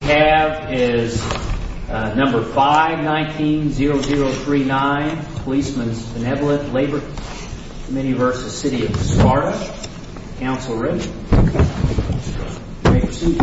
We have is number 519-0039, Policemen's Benevolent Labor Comm. v. City of Sparta. Counsel ready? You may proceed.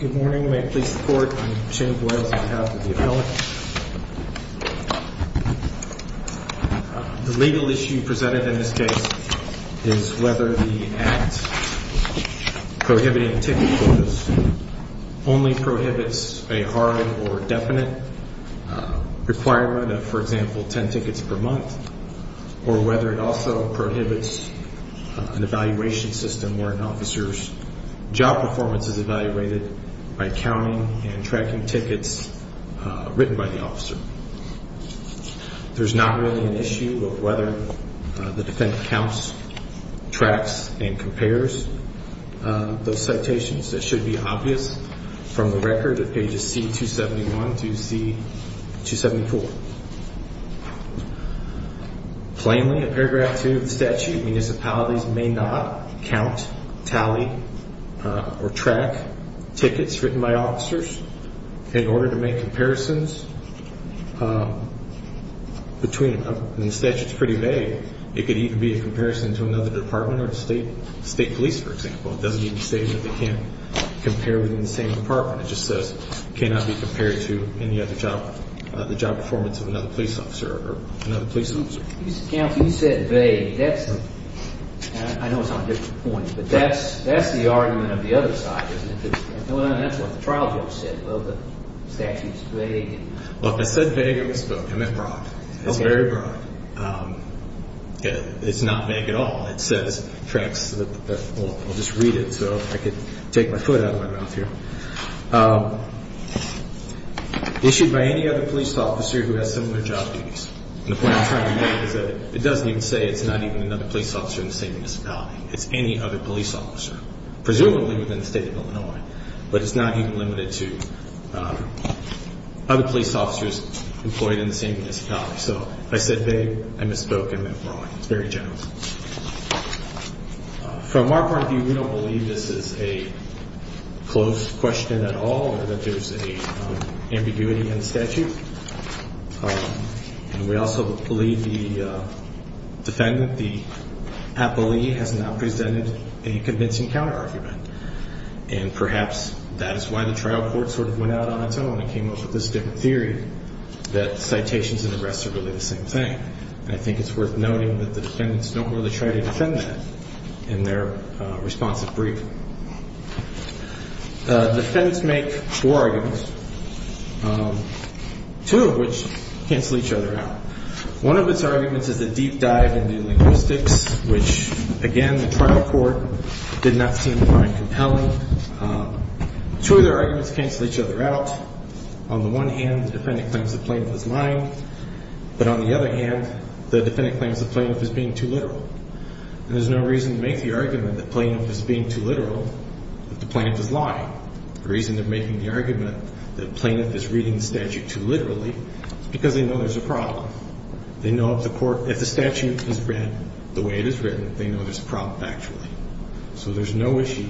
Good morning. May it please the Court, I'm Jim Boyles, I'm the House of the Appellant. The legal issue presented in this case is whether the Act prohibiting ticket holders only prohibits a hard or definite requirement of, for example, 10 tickets per month, or whether it also prohibits an evaluation system where an officer's job performance is evaluated by counting and tracking tickets written by the officer. There's not really an issue of whether the defendant counts, tracks, and compares those citations. That should be obvious from the record at pages C-271 to C-274. Plainly, in paragraph 2 of the statute, municipalities may not count, tally, or track tickets written by officers in order to make comparisons between them. The statute's pretty vague. It could even be a comparison to another department or state police, for example. It doesn't even state that they can't compare within the same department. It just says cannot be compared to any other job performance of another police officer. Counsel, you said vague. I know it's on a different point, but that's the argument of the other side, isn't it? That's what the trial judge said, the statute's vague. Look, I said vague. I misspoke. I meant broad. It's very broad. It's not vague at all. It says, tracks, I'll just read it so I can take my foot out of my mouth here. Issued by any other police officer who has similar job duties. And the point I'm trying to make is that it doesn't even say it's not even another police officer in the same municipality. It's any other police officer, presumably within the state of Illinois. But it's not even limited to other police officers employed in the same municipality. So I said vague. I misspoke. I meant broad. It's very general. From our point of view, we don't believe this is a close question at all or that there's an ambiguity in the statute. And we also believe the defendant, the appellee, has not presented a convincing counterargument. And perhaps that is why the trial court sort of went out on its own and came up with this different theory that citations and arrests are really the same thing. And I think it's worth noting that the defendants don't really try to defend that in their responsive brief. The defendants make four arguments, two of which cancel each other out. One of its arguments is the deep dive into linguistics, which, again, the trial court did not seem to find compelling. Two of their arguments cancel each other out. On the one hand, the defendant claims the plaintiff is lying. But on the other hand, the defendant claims the plaintiff is being too literal. And there's no reason to make the argument that the plaintiff is being too literal, that the plaintiff is lying. The reason they're making the argument that the plaintiff is reading the statute too literally is because they know there's a problem. They know if the statute is read the way it is written, they know there's a problem, actually. So there's no issue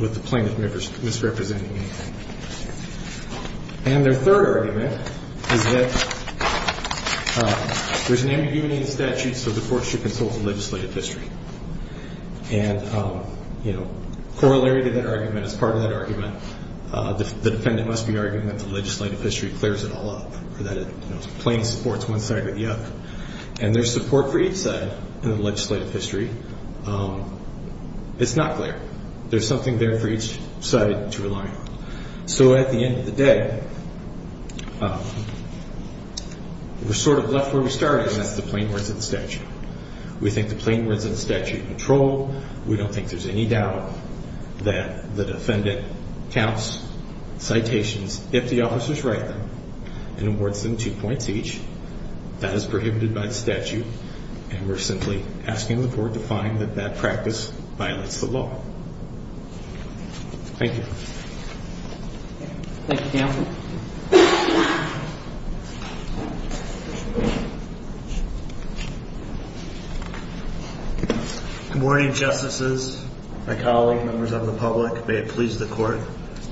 with the plaintiff misrepresenting anything. And their third argument is that there's an ambiguity in the statute, so the court should consult the legislative history. And, you know, corollary to that argument, as part of that argument, the defendant must be arguing that the legislative history clears it all up or that it plain supports one side or the other. And there's support for each side in the legislative history. It's not clear. There's something there for each side to rely on. So at the end of the day, we're sort of left where we started, and that's the plain words of the statute. We think the plain words of the statute control. We don't think there's any doubt that the defendant counts citations if the officers write them and awards them two points each. That is prohibited by the statute, and we're simply asking the court to find that that practice violates the law. Thank you. Good morning, Justices, my colleagues, members of the public. May it please the court.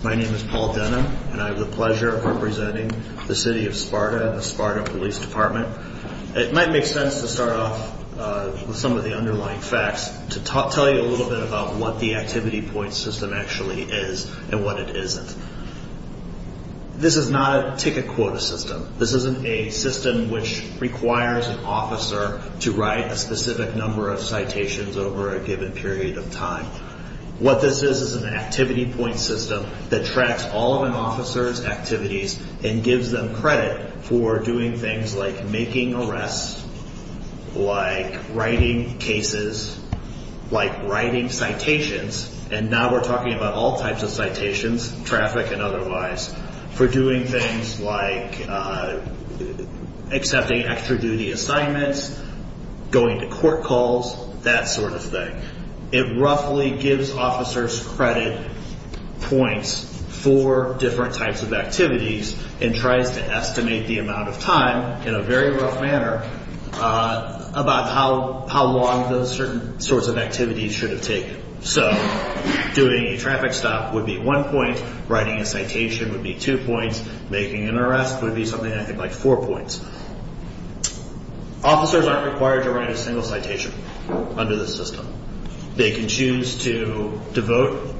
My name is Paul Denham, and I have the pleasure of representing the city of Sparta and the Sparta Police Department. It might make sense to start off with some of the underlying facts to tell you a little bit about what the activity point system actually is and what it isn't. This is not a ticket quota system. This isn't a system which requires an officer to write a specific number of citations over a given period of time. What this is is an activity point system that tracks all of an officer's activities and gives them credit for doing things like making arrests, like writing cases, like writing citations, and now we're talking about all types of citations, traffic and otherwise, for doing things like accepting extra duty assignments, going to court calls, that sort of thing. It roughly gives officers credit points for different types of activities and tries to estimate the amount of time in a very rough manner about how long those certain sorts of activities should have taken. So doing a traffic stop would be one point, writing a citation would be two points, making an arrest would be something like four points. Officers aren't required to write a single citation under this system. They can choose to devote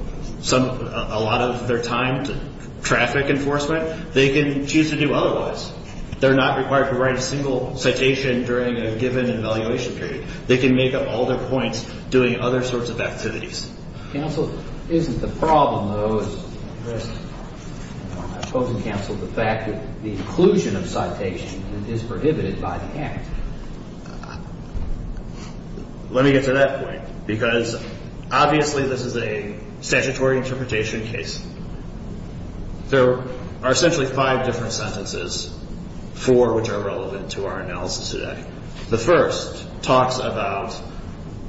a lot of their time to traffic enforcement. They can choose to do otherwise. They're not required to write a single citation during a given evaluation period. They can make up all their points doing other sorts of activities. Counsel, isn't the problem, though, I suppose in counsel, the fact that the inclusion of citation is prohibited by the Act? Let me get to that point because obviously this is a statutory interpretation case. There are essentially five different sentences, four of which are relevant to our analysis today. The first talks about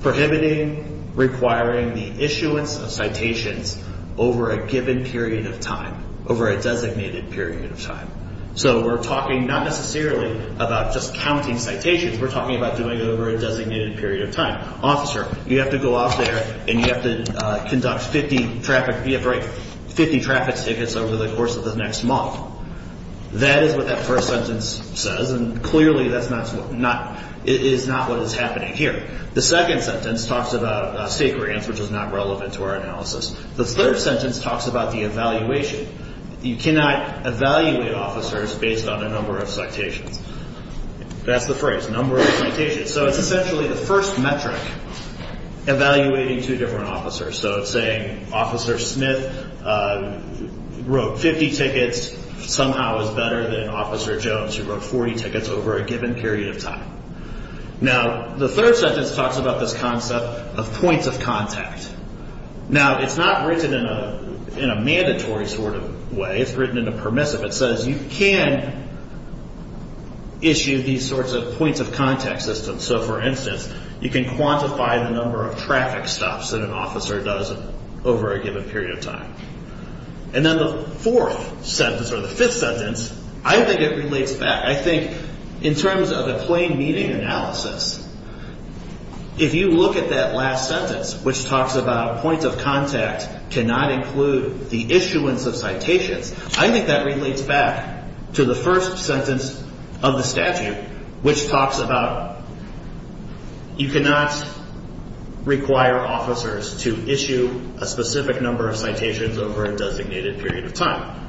prohibiting requiring the issuance of citations over a given period of time, over a designated period of time. So we're talking not necessarily about just counting citations. We're talking about doing it over a designated period of time. Officer, you have to go out there and you have to conduct 50 traffic tickets over the course of the next month. That is what that first sentence says, and clearly that's not what is happening here. The second sentence talks about state grants, which is not relevant to our analysis. The third sentence talks about the evaluation. You cannot evaluate officers based on a number of citations. That's the phrase, number of citations. So it's essentially the first metric evaluating two different officers. So it's saying Officer Smith wrote 50 tickets, somehow is better than Officer Jones who wrote 40 tickets over a given period of time. Now, the third sentence talks about this concept of points of contact. Now, it's not written in a mandatory sort of way. It's written in a permissive. It says you can issue these sorts of points of contact systems. So, for instance, you can quantify the number of traffic stops that an officer does over a given period of time. And then the fourth sentence, or the fifth sentence, I think it relates back. I think in terms of a plain meaning analysis, if you look at that last sentence, which talks about points of contact cannot include the issuance of citations, I think that relates back to the first sentence of the statute, which talks about you cannot require officers to issue a specific number of citations over a designated period of time.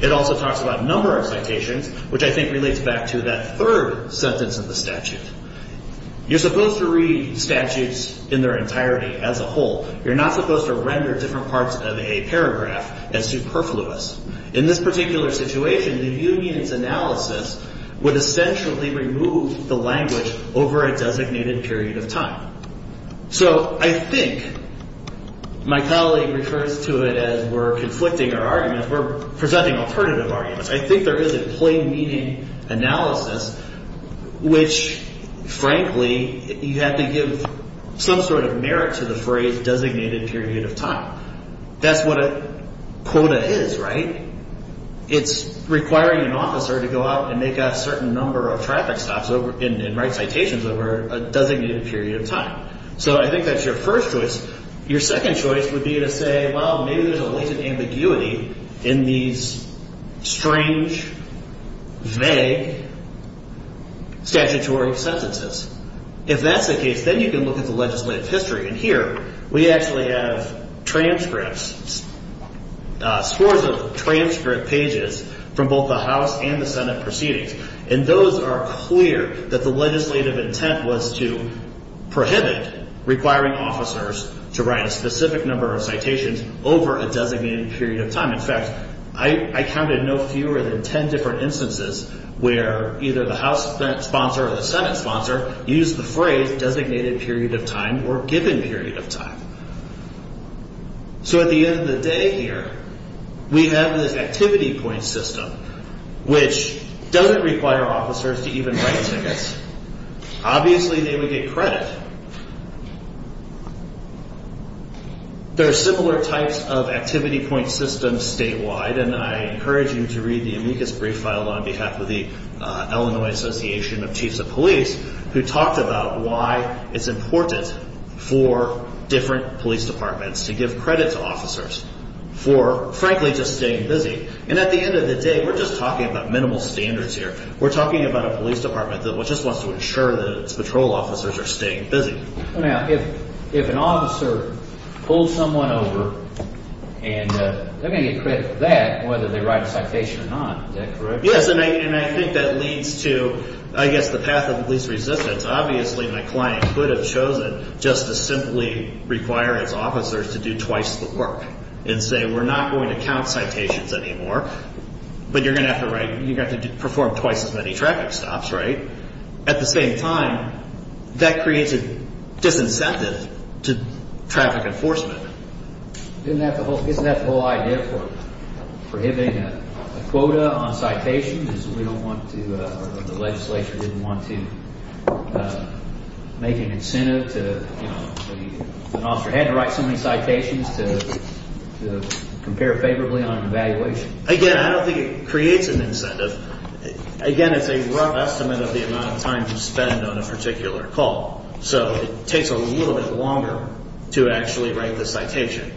It also talks about number of citations, which I think relates back to that third sentence of the statute. You're supposed to read statutes in their entirety as a whole. You're not supposed to render different parts of a paragraph as superfluous. In this particular situation, the union's analysis would essentially remove the language over a designated period of time. So I think my colleague refers to it as we're conflicting our arguments. We're presenting alternative arguments. I think there is a plain meaning analysis, which, frankly, you have to give some sort of merit to the phrase designated period of time. That's what a quota is, right? It's requiring an officer to go out and make a certain number of traffic stops and write citations over a designated period of time. So I think that's your first choice. Your second choice would be to say, well, maybe there's a latent ambiguity in these strange, vague statutory sentences. If that's the case, then you can look at the legislative history. And here we actually have transcripts, scores of transcript pages from both the House and the Senate proceedings. And those are clear that the legislative intent was to prohibit requiring officers to write a specific number of citations over a designated period of time. In fact, I counted no fewer than 10 different instances where either the House sponsor or the Senate sponsor used the phrase designated period of time or given period of time. So at the end of the day here, we have this activity point system, which doesn't require officers to even write tickets. Obviously, they would get credit. There are similar types of activity point systems statewide. And I encourage you to read the amicus brief filed on behalf of the Illinois Association of Chiefs of Police, who talked about why it's important for different police departments to give credit to officers for, frankly, just staying busy. And at the end of the day, we're just talking about minimal standards here. We're talking about a police department that just wants to ensure that its patrol officers are staying busy. Now, if an officer pulls someone over and they're going to get credit for that, whether they write a citation or not, is that correct? Yes, and I think that leads to, I guess, the path of police resistance. Obviously, my client could have chosen just to simply require his officers to do twice the work and say we're not going to count citations anymore, but you're going to have to write – you're going to have to perform twice as many traffic stops, right? At the same time, that creates a disincentive to traffic enforcement. Isn't that the whole idea for prohibiting a quota on citations is we don't want to – or the legislature didn't want to make an incentive to – an officer had to write so many citations to compare favorably on an evaluation. Again, I don't think it creates an incentive. Again, it's a rough estimate of the amount of time you spend on a particular call, so it takes a little bit longer to actually write the citation.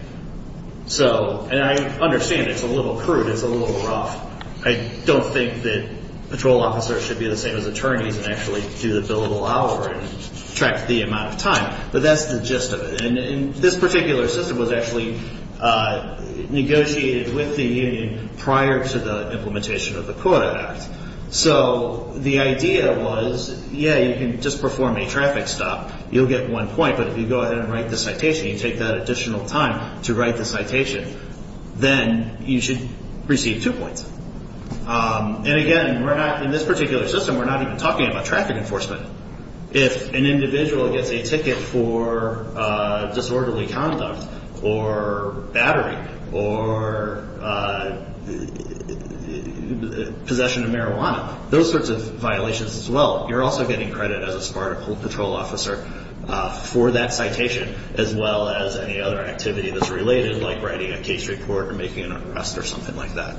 So – and I understand it's a little crude. It's a little rough. I don't think that patrol officers should be the same as attorneys and actually do the billable hour and track the amount of time, but that's the gist of it. And this particular system was actually negotiated with the union prior to the implementation of the Quota Act. So the idea was, yeah, you can just perform a traffic stop. You'll get one point, but if you go ahead and write the citation, you take that additional time to write the citation, then you should receive two points. And again, we're not – in this particular system, we're not even talking about traffic enforcement. If an individual gets a ticket for disorderly conduct or battering or possession of marijuana, those sorts of violations as well, you're also getting credit as a SPARTA patrol officer for that citation as well as any other activity that's related, like writing a case report or making an arrest or something like that.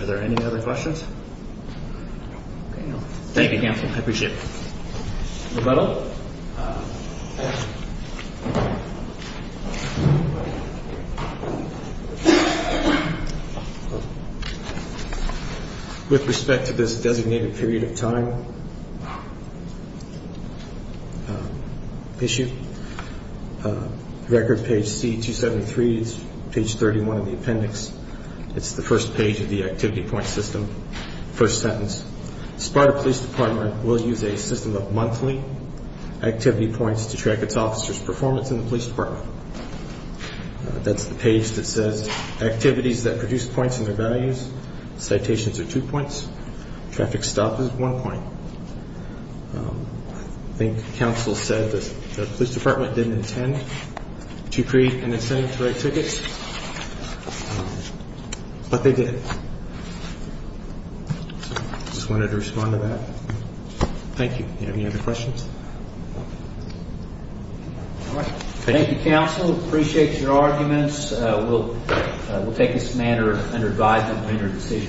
Are there any other questions? Okay. Thank you, counsel. I appreciate it. Rebuttal. With respect to this designated period of time issue, record page C, 273 is page 31 of the appendix. It's the first page of the activity point system, first sentence. SPARTA Police Department will use a system of monthly activity points to track its officers' performance in the police department. That's the page that says activities that produce points and their values. Citations are two points. Traffic stop is one point. I think counsel said the police department didn't intend to create an incentive to write tickets, but they did. I just wanted to respond to that. Thank you. Any other questions? Thank you, counsel. Appreciate your arguments. We'll take this matter under advisement when we make a decision.